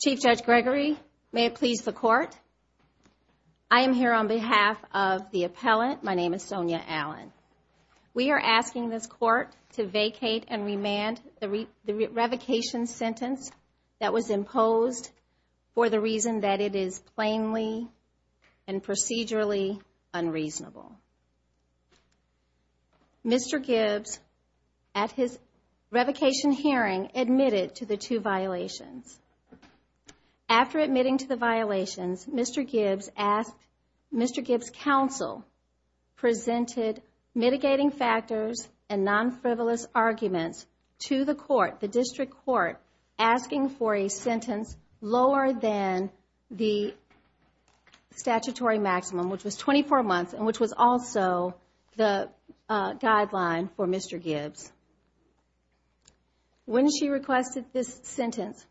Chief Judge Gregory, may it please the court. I am here on behalf of the appellant. My name is Sonia Allen. We are asking this court to vacate and remand the revocation sentence that was imposed for the reason that it is plainly and procedurally unreasonable. Mr. Gibbs, at his revocation hearing, admitted to the violations. After admitting to the violations, Mr. Gibbs asked, Mr. Gibbs counsel presented mitigating factors and non-frivolous arguments to the court, the district court, asking for a sentence lower than the statutory maximum, which was 24 months and which was also the guideline for Mr. Gibbs. When she requested this sentence,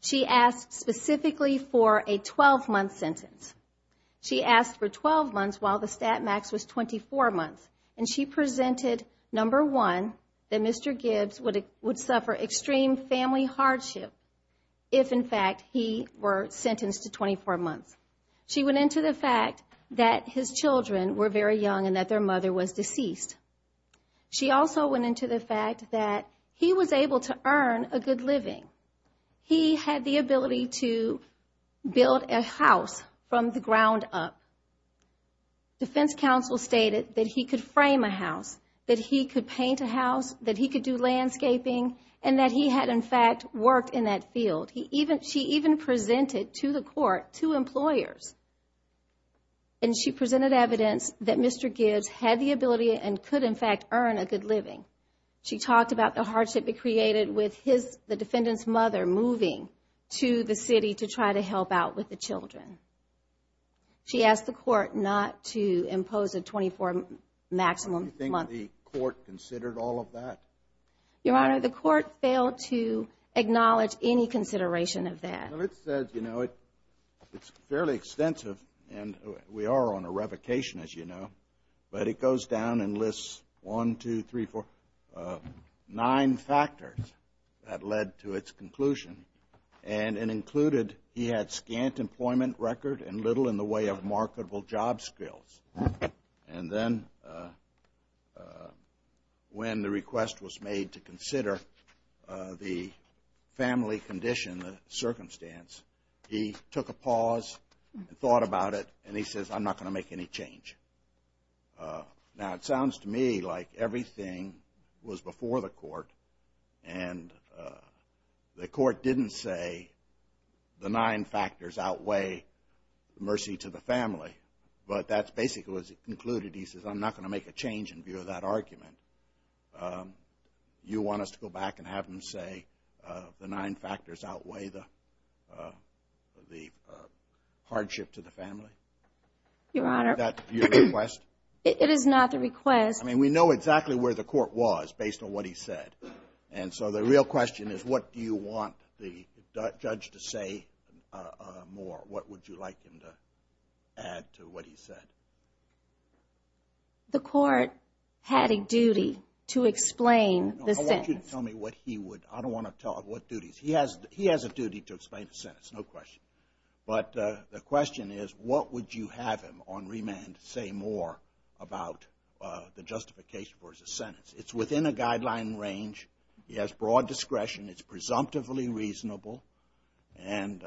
she asked specifically for a 12-month sentence. She asked for 12 months while the stat max was 24 months. And she presented, number one, that Mr. Gibbs would suffer extreme family hardship if, in fact, he were sentenced to 24 months. She went into the fact that his children were very young and that their mother was deceased. She also went into the fact that he was able to earn a good living. He had the ability to build a house from the ground up. Defense counsel stated that he could frame a house, that he could paint a house, that he could do landscaping, and that he had, in fact, worked in that field. She even presented to the court two employers. And she presented evidence that Mr. Gibbs had the ability and could, in fact, earn a good living. She talked about the hardship it created with the defendant's mother moving to the city to try to help out with the children. She asked the court not to impose a 24-maximum month. Do you think the court considered all of that? Your Honor, the court failed to acknowledge any consideration of that. Well, it says, you know, it's fairly extensive. And we are on a revocation, as you know. But it goes down and lists 1, 2, 3, 4, 9 factors that led to its conclusion. And it included he had scant employment record and little in the way of marketable job skills. And then when the request was made to consider the family condition, the circumstance, he took a pause and thought about it. And he says, I'm not going to make any change. Now, it sounds to me like everything was before the court. And the court didn't say the nine factors outweigh mercy to the family. But that's basically what it concluded. He says, I'm not going to make a change in view of that argument. You want us to go back and have him say the nine factors outweigh the hardship to the family? Your Honor. Is that your request? It is not the request. I mean, we know exactly where the court was based on what he said. And so the real question is, what do you want the judge to say more? What would you like him to add to what he said? The court had a duty to explain the sentence. I want you to tell me what he would. I don't want to tell what duties. He has a duty to explain the sentence, no question. But the question is, what would you have him on remand say more about the justification for his sentence? It's within a guideline range. He has broad discretion. It's presumptively reasonable. And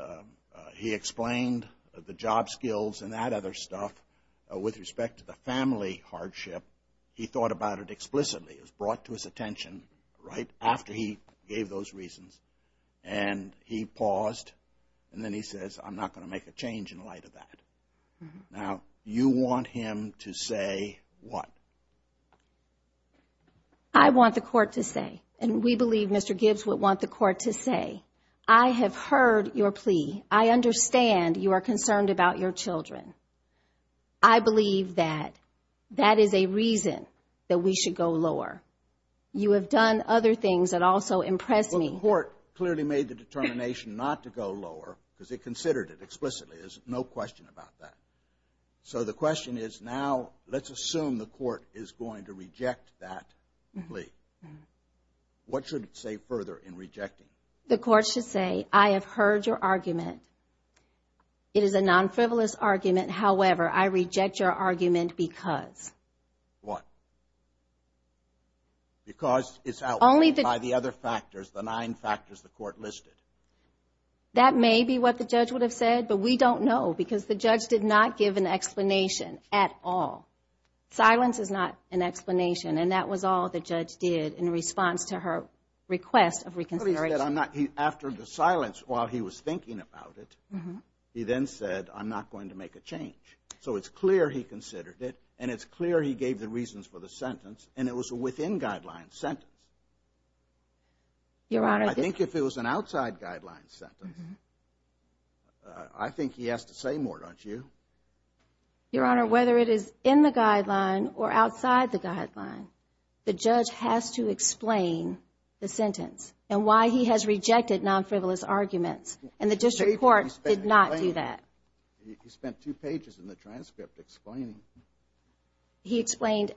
he explained the job skills and that other stuff with respect to the family hardship. He thought about it explicitly. It was brought to his light after he gave those reasons. And he paused. And then he says, I'm not going to make a change in light of that. Now, you want him to say what? I want the court to say, and we believe Mr. Gibbs would want the court to say, I have heard your plea. I understand you are concerned about your children. I have heard your argument. It is a non-frivolous argument. However, I reject your argument because. What? Because it's outweighed by the other factors, the nine factors the court listed. That may be what the judge would have said, but we don't know because the judge did not give an explanation at all. Silence is not an explanation. And that was all the judge did in response to her request of reconsideration. After the silence, while he was thinking about it, he then said, I'm not going to make a change. So it's clear he considered it. And it's clear he gave the reasons for the sentence. And it was a within guidelines sentence. I think if it was an outside guidelines sentence, I think he has to say more, don't you? Your Honor, whether it is in the guideline or outside the guideline, the judge has to explain the sentence and why he has rejected non-frivolous arguments. And the district court did not do that. He spent two pages in the transcript explaining. He explained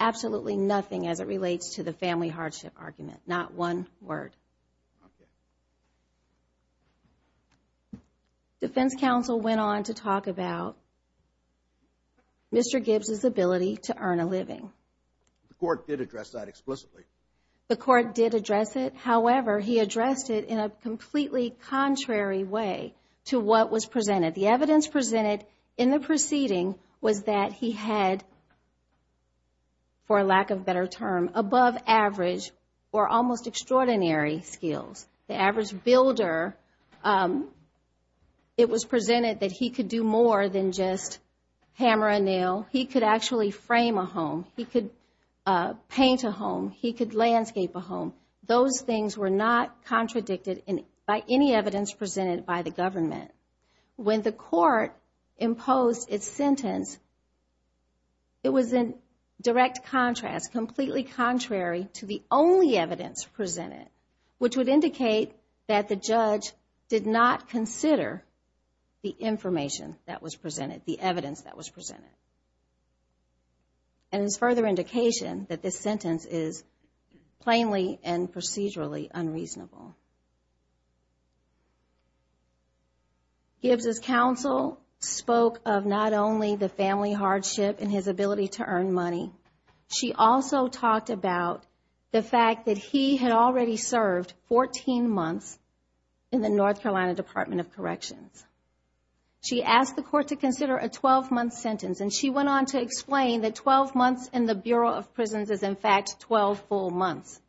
absolutely nothing as it relates to the family hardship argument. Not one word. Defense counsel went on to talk about Mr. Gibbs's ability to earn a living. The court did address that completely contrary way to what was presented. The evidence presented in the proceeding was that he had, for lack of better term, above average or almost extraordinary skills. The average builder, it was presented that he could do more than just hammer a nail. He could actually frame a home. He could paint a house by any evidence presented by the government. When the court imposed its sentence, it was in direct contrast, completely contrary to the only evidence presented, which would indicate that the judge did not consider the information that was presented, the evidence that was presented. And it's further indication that this sentence is plainly and procedurally unreasonable. Gibbs's counsel spoke of not only the family hardship and his ability to earn money. She also talked about the fact that he had already served 14 months in the North Carolina Department of Corrections. She asked the court to consider a 12 months in the Bureau of Prisons as, in fact, 12 full months,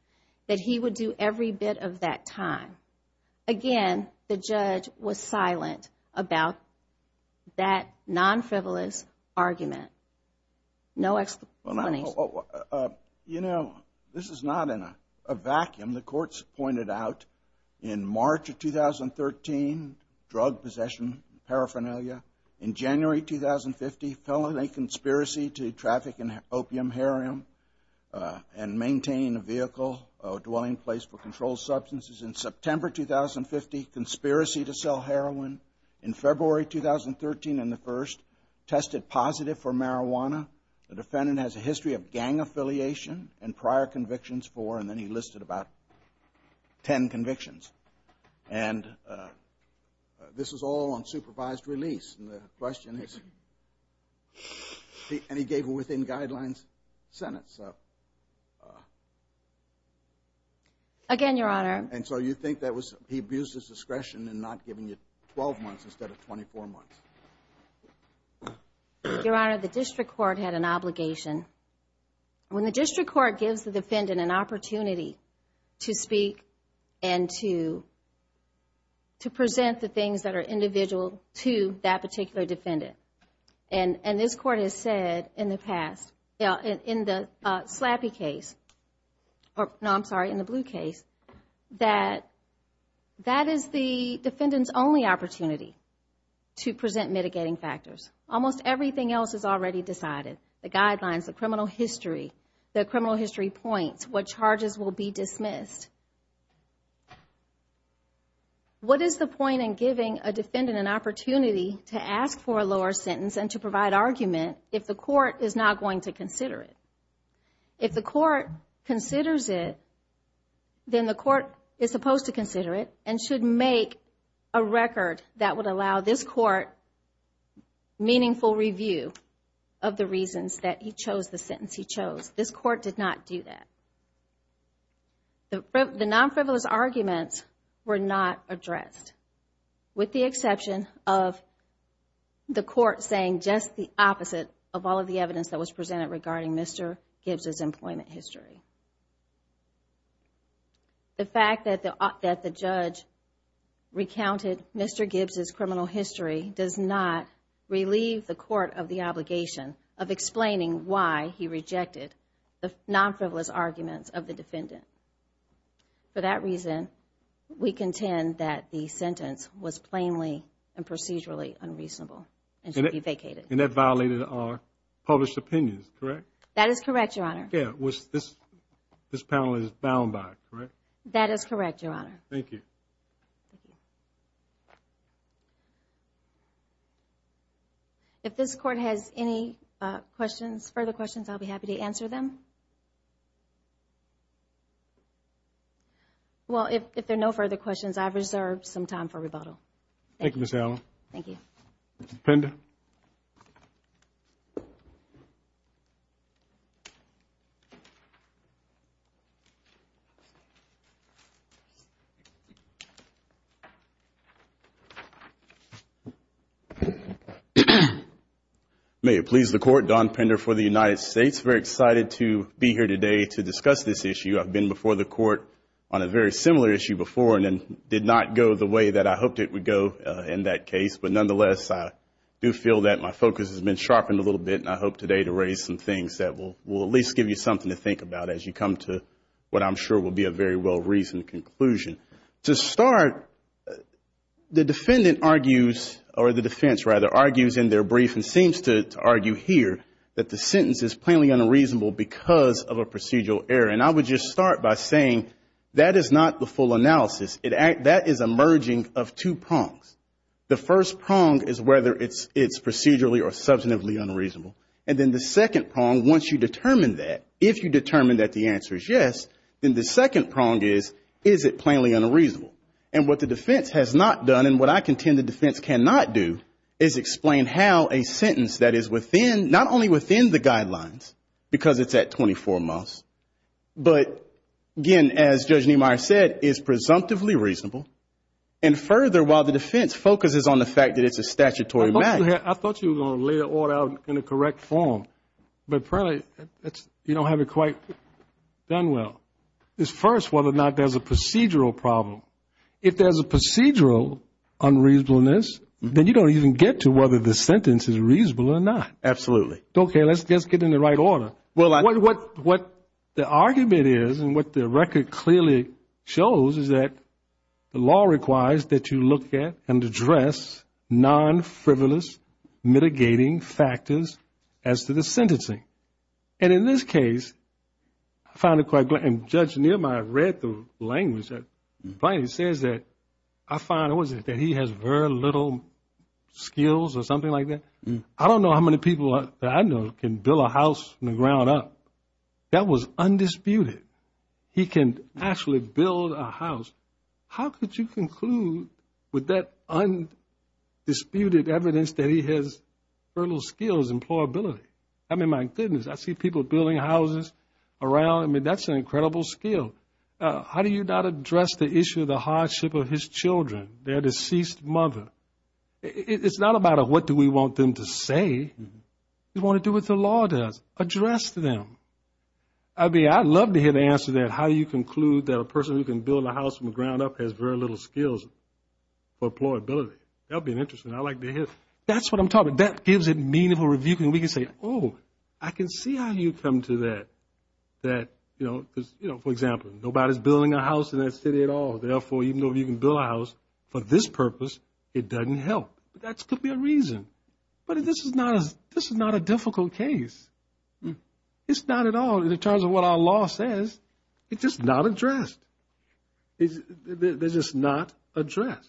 that he would do every bit of that time. Again, the judge was silent about that non-frivolous argument. No explanation. You know, this is not in a vacuum. The courts pointed out in March of 2013, drug possession, paraphernalia. In January 2050, felony conspiracy to traffic in opium, heroin, and maintain a vehicle or dwelling place for controlled substances. In September 2050, conspiracy to sell heroin. In February 2013 and the 1st, tested positive for marijuana. The defendant has a history of gang affiliation and prior convictions for, and then he listed about 10 convictions. And this is all on supervised release. And the question is, and he gave a within guidelines sentence. Again, Your Honor. And so you think that was, he abused his discretion in not giving you 12 months instead of 24 months. Your Honor, the district court had an obligation. When the district court gives the defendant an opportunity to speak and to present the things that are in the past, in the slappy case, or no, I'm sorry, in the blue case, that that is the defendant's only opportunity to present mitigating factors. Almost everything else is already decided. The guidelines, the criminal history, the criminal history points, what charges will be dismissed. What is the point in giving a defendant an opportunity to ask for a lower sentence and to provide argument if the court is not going to consider it? If the court considers it, then the court is supposed to consider it and should make a record that would allow this court meaningful review of the reasons that he chose the sentence he chose. This court did not do that. The non-frivolous arguments were not addressed, with the of all of the evidence that was presented regarding Mr. Gibbs's employment history. The fact that the judge recounted Mr. Gibbs's criminal history does not relieve the court of the obligation of explaining why he rejected the non-frivolous arguments of the defendant. For that reason, we contend that the sentence was plainly and procedurally unreasonable and should be vacated. And that violated our published opinions, correct? That is correct, Your Honor. Yeah, this panel is bound by it, correct? That is correct, Your Honor. Thank you. If this court has any questions, further questions, I'll be happy to answer them. Well, if there are no further questions, I've reserved some time for rebuttal. Thank you, Ms. Allen. Thank you. Mr. Pender? May it please the Court, Don Pender for the United States. Very excited to be here today to discuss this issue. I've been before the court on a very similar issue before and it did not go the way that I hoped it would go in that case. But nonetheless, I do feel that my focus has been sharpened a little bit and I hope today to raise some things that will at least give you something to think about as you come to what I'm sure will be a very well-reasoned conclusion. To start, the defendant argues, or the defense rather, argues in their brief and seems to argue here that the sentence is plainly unreasonable because of a procedural error. And I would just start by saying that is not the full analysis. That is a merging of two prongs. The first prong is whether it's procedurally or substantively unreasonable. And then the second prong, once you determine that, if you determine that the answer is yes, then the second prong is, is it plainly unreasonable? And what the defense has not done and what I contend the defense cannot do is explain how a sentence that is within, not only within the guidelines, because it's at 24 months, but again, as Judge Niemeyer said, is presumptively reasonable. And further, while the defense focuses on the fact that it's a statutory matter. I thought you were going to lay the order out in a correct form. But apparently, you don't have it quite done well. It's first whether or not there's a procedural problem. If there's a procedural unreasonableness, then you don't even get to whether the sentence is reasonable or not. Absolutely. Okay, let's get in the right order. Well, I What the argument is and what the record clearly shows is that the law requires that you look at and address non-frivolous mitigating factors as to the sentencing. And in this case, I found it quite, and Judge Niemeyer read the language that Plaintiff says that I find that he has very little skills or something like that. I don't know how many people that I know can build a house from the ground up. That was undisputed. He can actually build a house. How could you conclude with that undisputed evidence that he has fertile skills and employability? I mean, my goodness, I see people building houses around. I mean, that's an incredible skill. How do you not address the issue of the hardship of his children, their deceased mother? It's not about what do we want them to say. We want to do what the law does, address them. I mean, I'd love to hear the answer to that, how you conclude that a person who can build a house from the ground up has very little skills or employability. That would be interesting. I'd like to hear. That's what I'm talking about. That gives it meaningful review. And we can say, oh, I can see how you come to that. That, you know, for example, nobody's building a house in that city at all. Therefore, even though you can build a house for this reason, but this is not a difficult case. It's not at all in terms of what our law says. It's just not addressed. They're just not addressed.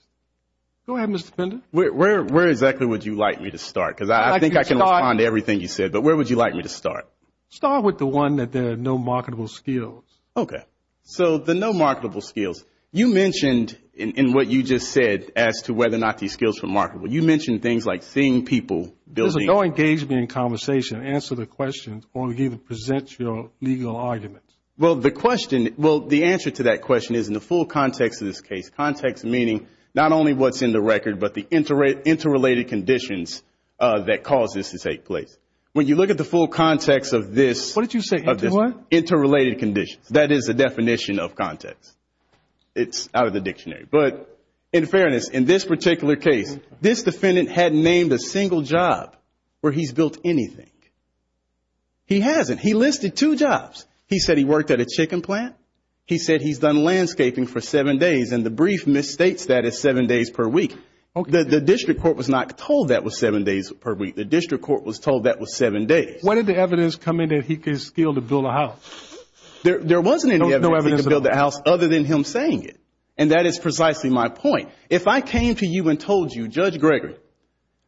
Go ahead, Mr. Pender. Where exactly would you like me to start? Because I think I can respond to everything you said. But where would you like me to start? Start with the one that there are no marketable skills. OK, so the no marketable skills you mentioned in what you just said as to whether or not these skills are marketable. You mentioned things like seeing people building. There's no engagement in conversation. Answer the question or either present your legal argument. Well, the question, well, the answer to that question is in the full context of this case. Context meaning not only what's in the record, but the interrelated conditions that cause this to take place. When you look at the full context of this. What did you say? Interrelated conditions. That is the definition of context. It's out of the case. This defendant had named a single job where he's built anything. He hasn't. He listed two jobs. He said he worked at a chicken plant. He said he's done landscaping for seven days. And the brief misstates that is seven days per week. The district court was not told that was seven days per week. The district court was told that was seven days. What did the evidence come in that he could skill to build a house? There wasn't any evidence to build the house other than him saying it. And that is precisely my point. If I came to you and told you, Judge Gregory,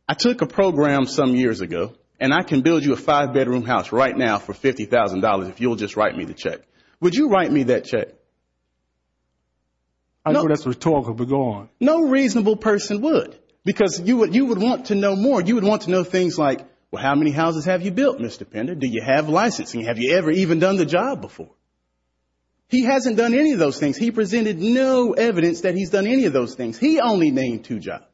I took a program some years ago and I can build you a five-bedroom house right now for $50,000 if you'll just write me the check. Would you write me that check? I know that's rhetorical, but go on. No reasonable person would. Because you would want to know more. You would want to know things like, well, how many houses have you built, Mr. Pender? Do you have licensing? Have you ever even done the job before? He hasn't done any of those things. He presented no evidence that he's done any of those things. He only named two jobs.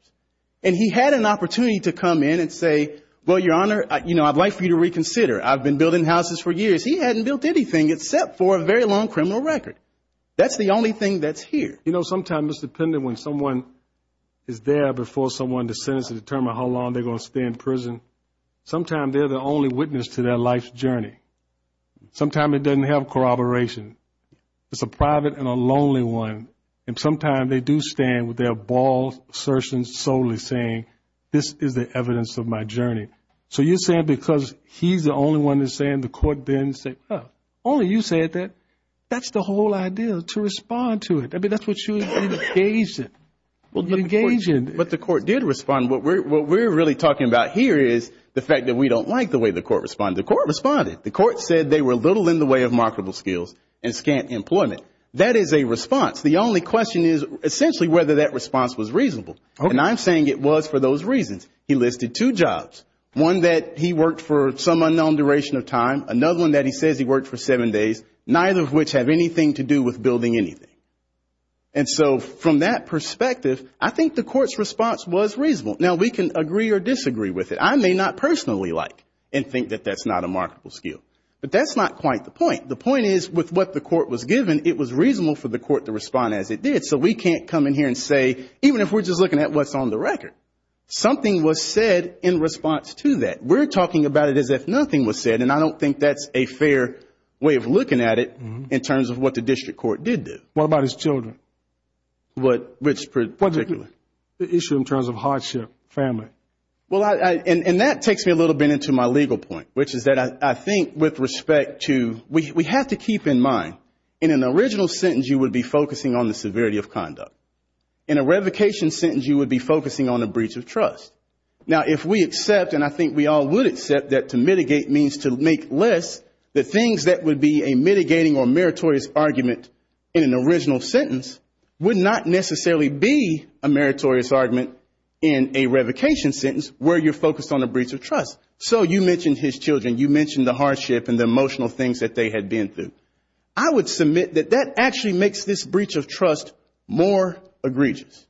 And he had an opportunity to come in and say, well, Your Honor, you know, I'd like for you to reconsider. I've been building houses for years. He hadn't built anything except for a very long criminal record. That's the only thing that's here. You know, sometimes, Mr. Pender, when someone is there before someone to sentence to determine how long they're going to stay in prison, sometimes they're the only witness to their life's journey. Sometimes it doesn't have to be a criminal record. Sometimes it has to do with their balls, assertions solely saying, this is the evidence of my journey. So you're saying because he's the only one that's saying, the court didn't say, well, only you said that, that's the whole idea to respond to it. I mean, that's what you engaged in. You engaged in. But the court did respond. What we're really talking about here is the fact that we don't like the way the court responded. The court responded. The court said they were a little in the way of marketable skills and scant employment. That is a response. The only question is essentially whether that response was reasonable. And I'm saying it was for those reasons. He listed two jobs, one that he worked for some unknown duration of time, another one that he says he worked for seven days, neither of which have anything to do with building anything. And so from that perspective, I think the court's response was reasonable. Now, we can agree or disagree with it. I may not personally like and think that that's not a marketable skill. But that's not quite the point. The point is, with what the court was given, it was reasonable for the court to respond as it did. So we can't come in here and say, even if we're just looking at what's on the record, something was said in response to that. We're talking about it as if nothing was said. And I don't think that's a fair way of looking at it in terms of what the district court did do. What about his children? Which particular? The issue in terms of hardship, family. Well, and that takes me a little bit into my legal point, which is that I have to keep in mind, in an original sentence, you would be focusing on the severity of conduct. In a revocation sentence, you would be focusing on a breach of trust. Now, if we accept, and I think we all would accept that to mitigate means to make less, the things that would be a mitigating or meritorious argument in an original sentence would not necessarily be a meritorious argument in a revocation sentence where you're focused on a breach of trust. So you mentioned his children. You mentioned the hardship and the emotional things that they had been through. I would submit that that actually makes this breach of trust more egregious.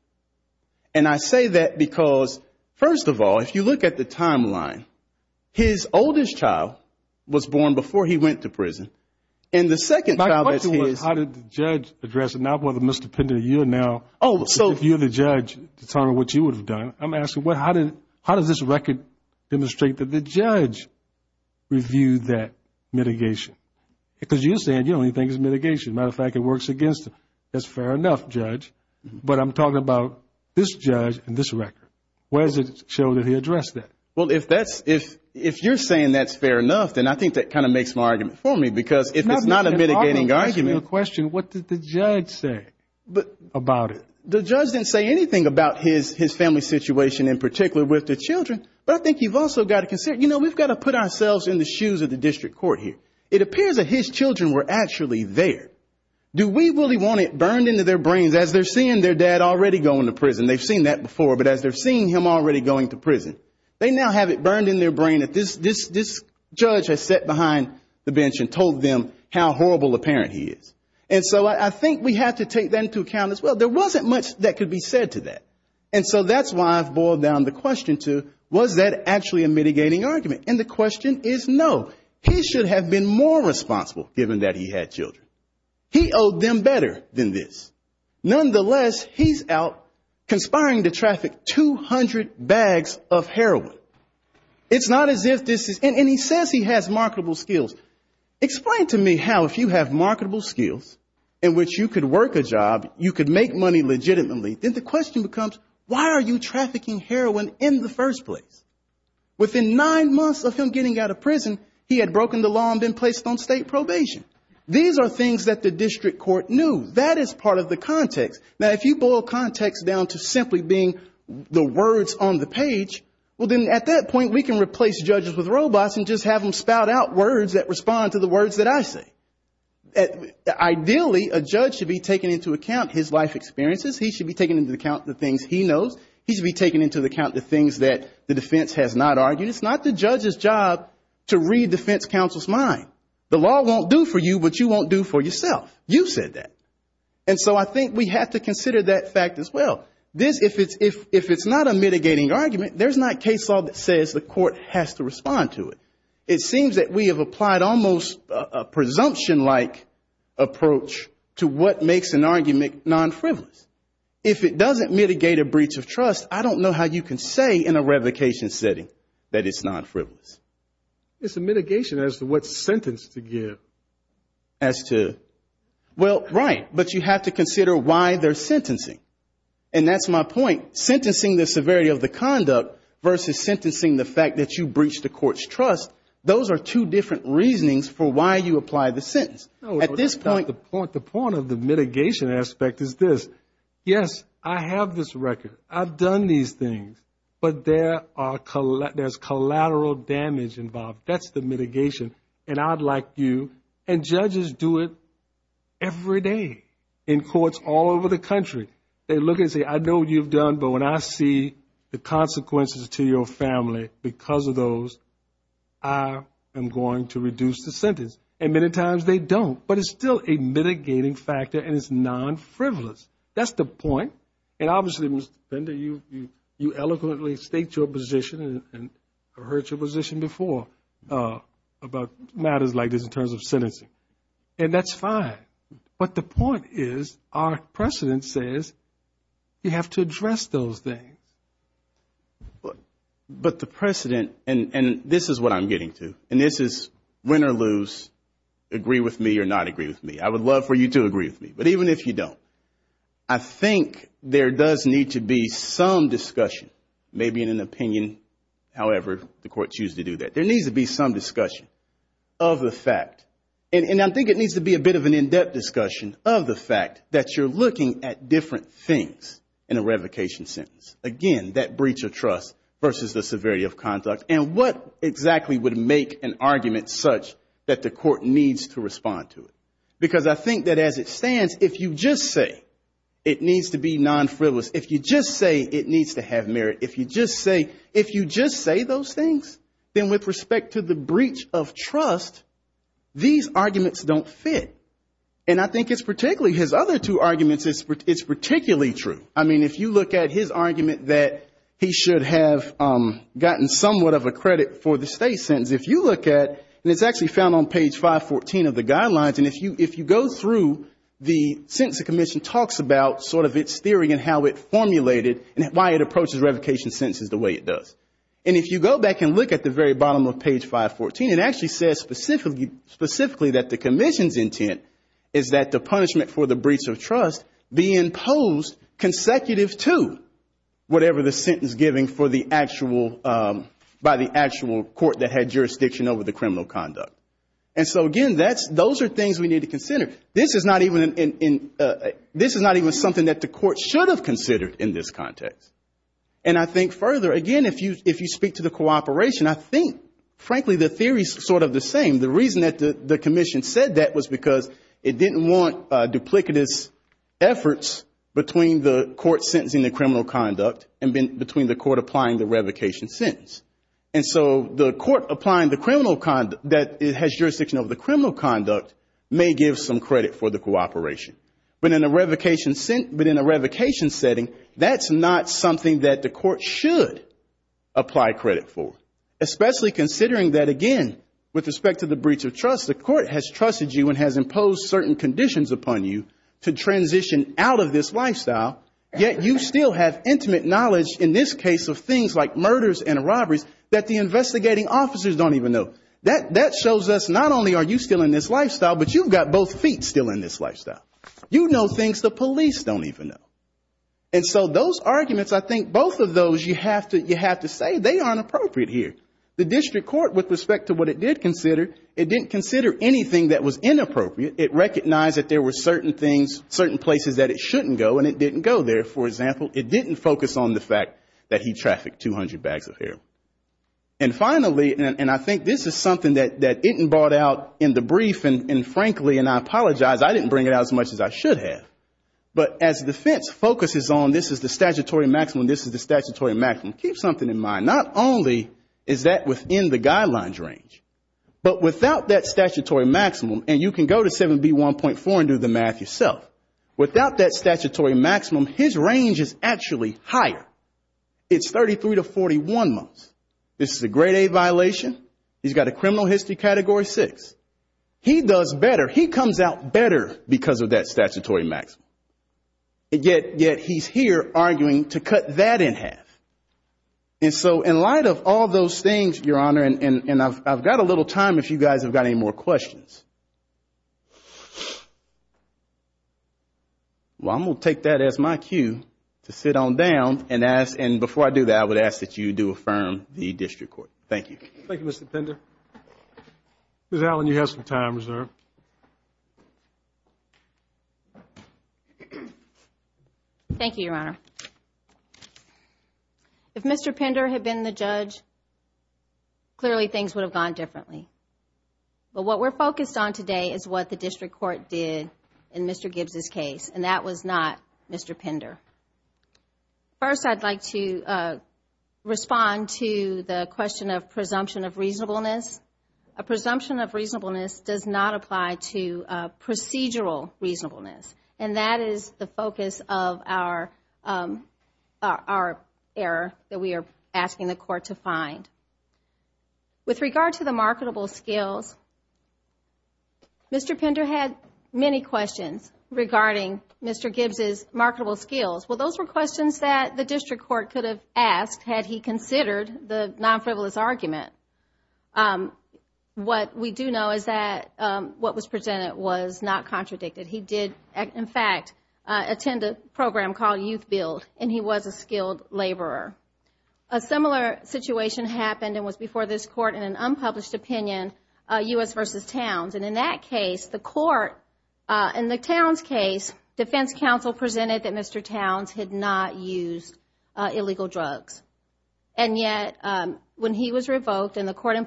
And I say that because, first of all, if you look at the timeline, his oldest child was born before he went to prison, and the second child is his. My question was how did the judge address it, not whether Mr. Pender, you are now, if you're the judge, determining what you would have done. I'm asking, how does this record demonstrate that the judge reviewed that mitigation? Because you're saying the only thing is mitigation. Matter of fact, it works against him. That's fair enough, Judge. But I'm talking about this judge and this record. Where does it show that he addressed that? Well, if that's, if you're saying that's fair enough, then I think that kind of makes more argument for me, because if it's not a mitigating argument. If I were to ask you a question, what did the judge say about it? The judge didn't say anything about his family situation in particular with the children, but I think you've also got to consider, you know, we've got to put ourselves in the shoes of the district court here. It appears that his children were actually there. Do we really want it burned into their brains as they're seeing their dad already going to prison? They've seen that before, but as they're seeing him already going to prison. They now have it burned in their brain that this judge has sat behind the bench and told them how horrible a parent he is. And so I think we have to take that into account as well. There wasn't much that could be said to that. And so that's why I've boiled down the question to, was that actually a mitigating argument? And the question is, was that a mitigating argument? The answer to that question is no. He should have been more responsible given that he had children. He owed them better than this. Nonetheless, he's out conspiring to traffic 200 bags of heroin. It's not as if this is and he says he has marketable skills. Explain to me how, if you have marketable skills in which you could work a job, you could make money legitimately, then the question becomes, why are you trafficking heroin And the answer to that question is no. He should have been more These are things that the district court knew. That is part of the context. Now, if you boil context down to simply being the words on the page, well, then at that point we can replace judges with robots and just have them spout out words that respond to the words that I say. Ideally, a judge should be taking into account his life experiences. He should be taking into account the things he knows. He should be taking into account the things that the defense has not argued. It's not the judge's job to read defense counsel's mind. The law won't do for you what you won't do for yourself. You said that. And so I think we have to consider that fact as well. If it's not a mitigating argument, there's not case law that says the court has to respond to it. It seems that we have applied almost a presumption-like approach to what makes an argument non-frivolous. If it doesn't mitigate a breach of trust, I don't know how you can say in a case like this, it's a mitigation as to what sentence to give as to... Well, right. But you have to consider why they're sentencing. And that's my point. Sentencing the severity of the conduct versus sentencing the fact that you breached the court's trust, those are two different reasonings for why you apply the sentence. At this point... The point of the mitigation aspect is this. Yes, I have this record. I've done these things. But there's collateral damage involved. There's collateral damage. That's the mitigation. And I'd like you... And judges do it every day in courts all over the country. They look and say, I know what you've done, but when I see the consequences to your family because of those, I am going to reduce the sentence. And many times they don't. But it's still a mitigating factor and it's non-frivolous. That's the point. And obviously, Mr. Fender, you eloquently state your position and I've heard your position before about matters like this in terms of sentencing. And that's fine. But the point is our precedent says you have to address those things. But the precedent, and this is what I'm getting to, and this is win or lose, agree with me or not agree with me. I would love for you to agree with me. But even if you don't, I think there does need to be some discussion, maybe in an in-depth discussion, of the fact that you're looking at different things in a revocation sentence. Again, that breach of trust versus the severity of conduct. And what exactly would make an argument such that the court needs to respond to it? Because I think that as it stands, if you just say it needs to be non-frivolous, if you just say it needs to have merit, if you just say those things, it's not going to work. Then with respect to the breach of trust, these arguments don't fit. And I think it's particularly, his other two arguments, it's particularly true. I mean, if you look at his argument that he should have gotten somewhat of a credit for the state sentence, if you look at, and it's actually found on page 514 of the guidelines, and if you go through, the Sentencing Commission talks about sort of its theory and how it formulated and why it approaches revocation sentences the way it does. And if you go back and look at the very bottom of page 514, it actually says specifically that the commission's intent is that the punishment for the breach of trust be imposed consecutive to whatever the sentence giving for the actual, by the actual court that had jurisdiction over the criminal conduct. And so, again, those are things we need to consider. This is not even something that the court should have considered in this context. And I think further, again, if you speak to the cooperation, I think, frankly, the theory is sort of the same. The reason that the commission said that was because it didn't want duplicitous efforts between the court sentencing the criminal conduct and between the court applying the revocation sentence. And so the court applying the criminal conduct, that it has jurisdiction over the criminal conduct, may give some credit for the cooperation. But in a way that the court should apply credit for. Especially considering that, again, with respect to the breach of trust, the court has trusted you and has imposed certain conditions upon you to transition out of this lifestyle, yet you still have intimate knowledge in this case of things like murders and robberies that the investigating officers don't even know. That shows us not only are you still in this lifestyle, but you've got both feet still in this lifestyle. You know things the police don't even know. And so those things, you have to say they aren't appropriate here. The district court, with respect to what it did consider, it didn't consider anything that was inappropriate. It recognized that there were certain things, certain places that it shouldn't go, and it didn't go there. For example, it didn't focus on the fact that he trafficked 200 bags of heroin. And finally, and I think this is something that isn't brought out in the brief, and frankly, and I apologize, I didn't bring it out as much as I should have. But as defense focuses on this is the statutory maximum, this is the statutory maximum. Keep something in mind. Not only is that within the guidelines range, but without that statutory maximum, and you can go to 7B1.4 and do the math yourself, without that statutory maximum, his range is actually higher. It's 33 to 41 months. This is a grade A violation. He's got a criminal history category 6. He does better. He comes out better because of that statutory maximum. And yet, yet he's here arguing to cut that in half. And so in light of all those things, Your Honor, and I've got a little time if you guys have got any more questions. Well, I'm going to take that as my cue to sit on down and ask, and before I do that, I would ask that you do affirm the district court. Thank you. Thank you, Mr. Pender. Ms. Allen, you have some time reserved. Thank you, Your Honor. If Mr. Pender had been the judge, clearly things would have gone differently. But what we're focused on today is what the district court did in Mr. Gibbs' case, and that was not Mr. Pender. First, I'd like to respond to the question of presumption of reasonableness. A presumption of reasonableness does not apply to procedural reasonableness, and that is the focus of our error that we are asking the court to find. With regard to the marketable skills, Mr. Pender had many questions regarding Mr. Gibbs' marketable skills. Well, those were questions that the district court could have asked had he considered the non-frivolous argument. What we do know is that what was presented was not contradicted. He did, in fact, attend a program called YouthBuild, and he was a skilled laborer. A similar situation happened and was before this court in an unpublished opinion, U.S. v. Towns, and in that case, the court, in the Towns case, defense counsel presented that Mr. Towns had not used illegal drugs. And yet, when he was revoked and the court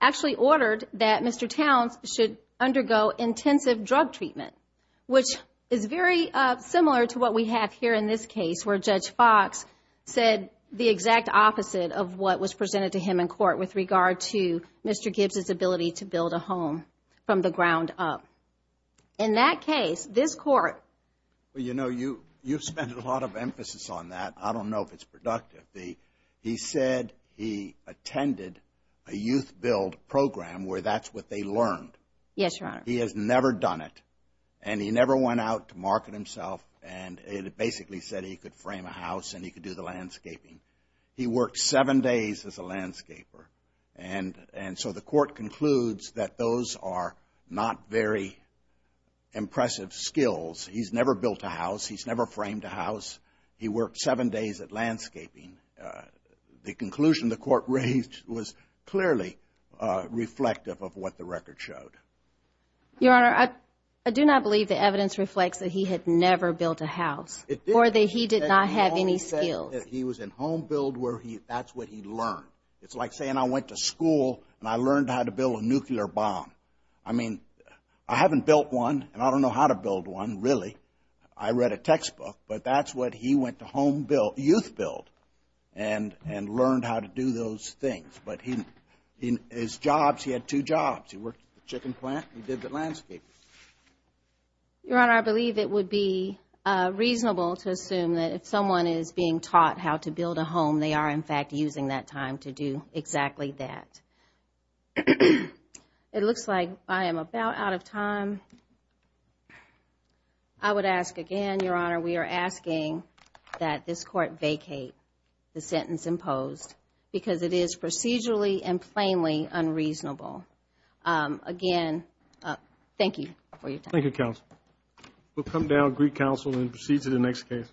actually ordered that Mr. Towns should undergo intensive drug treatment, which is very similar to what we have here in this case where Judge Fox said the exact opposite of what was presented to him in court with regard to Mr. Gibbs' ability to build a home from the ground up. In that case, this court Well, you know, you've spent a lot of emphasis on that. I don't know if it's true that the court has never heard of a YouthBuild program where that's what they learned. He has never done it, and he never went out to market himself, and it basically said he could frame a house and he could do the landscaping. He worked seven days as a landscaper, and so the court concludes that those are not very impressive skills. He's never built a house. He's never framed a house. He worked seven days at landscaping. The conclusion the court raised was clearly reflective of what the record showed. Your Honor, I do not believe the evidence reflects that he had never built a house or that he did not have any skills. He was in HomeBuild where that's what he learned. It's like saying I went to school and I learned how to build a nuclear bomb. I mean, I haven't built one, and I don't know how to build one, really. I read a textbook, but that's what he went to HomeBuild, YouthBuild, and learned how to do those things. But he had two jobs. He worked at the chicken plant. He did the landscaping. Your Honor, I believe it would be reasonable to assume that if someone is being taught how to build a home, they are, in fact, using that time to do exactly that. It looks like I am about out of time. I would ask again, Your Honor, we are asking that this Court vacate the sentence imposed because it is procedurally and plainly unreasonable. Again, thank you for your time. Thank you, counsel. We'll come down, greet counsel, and proceed to the next case.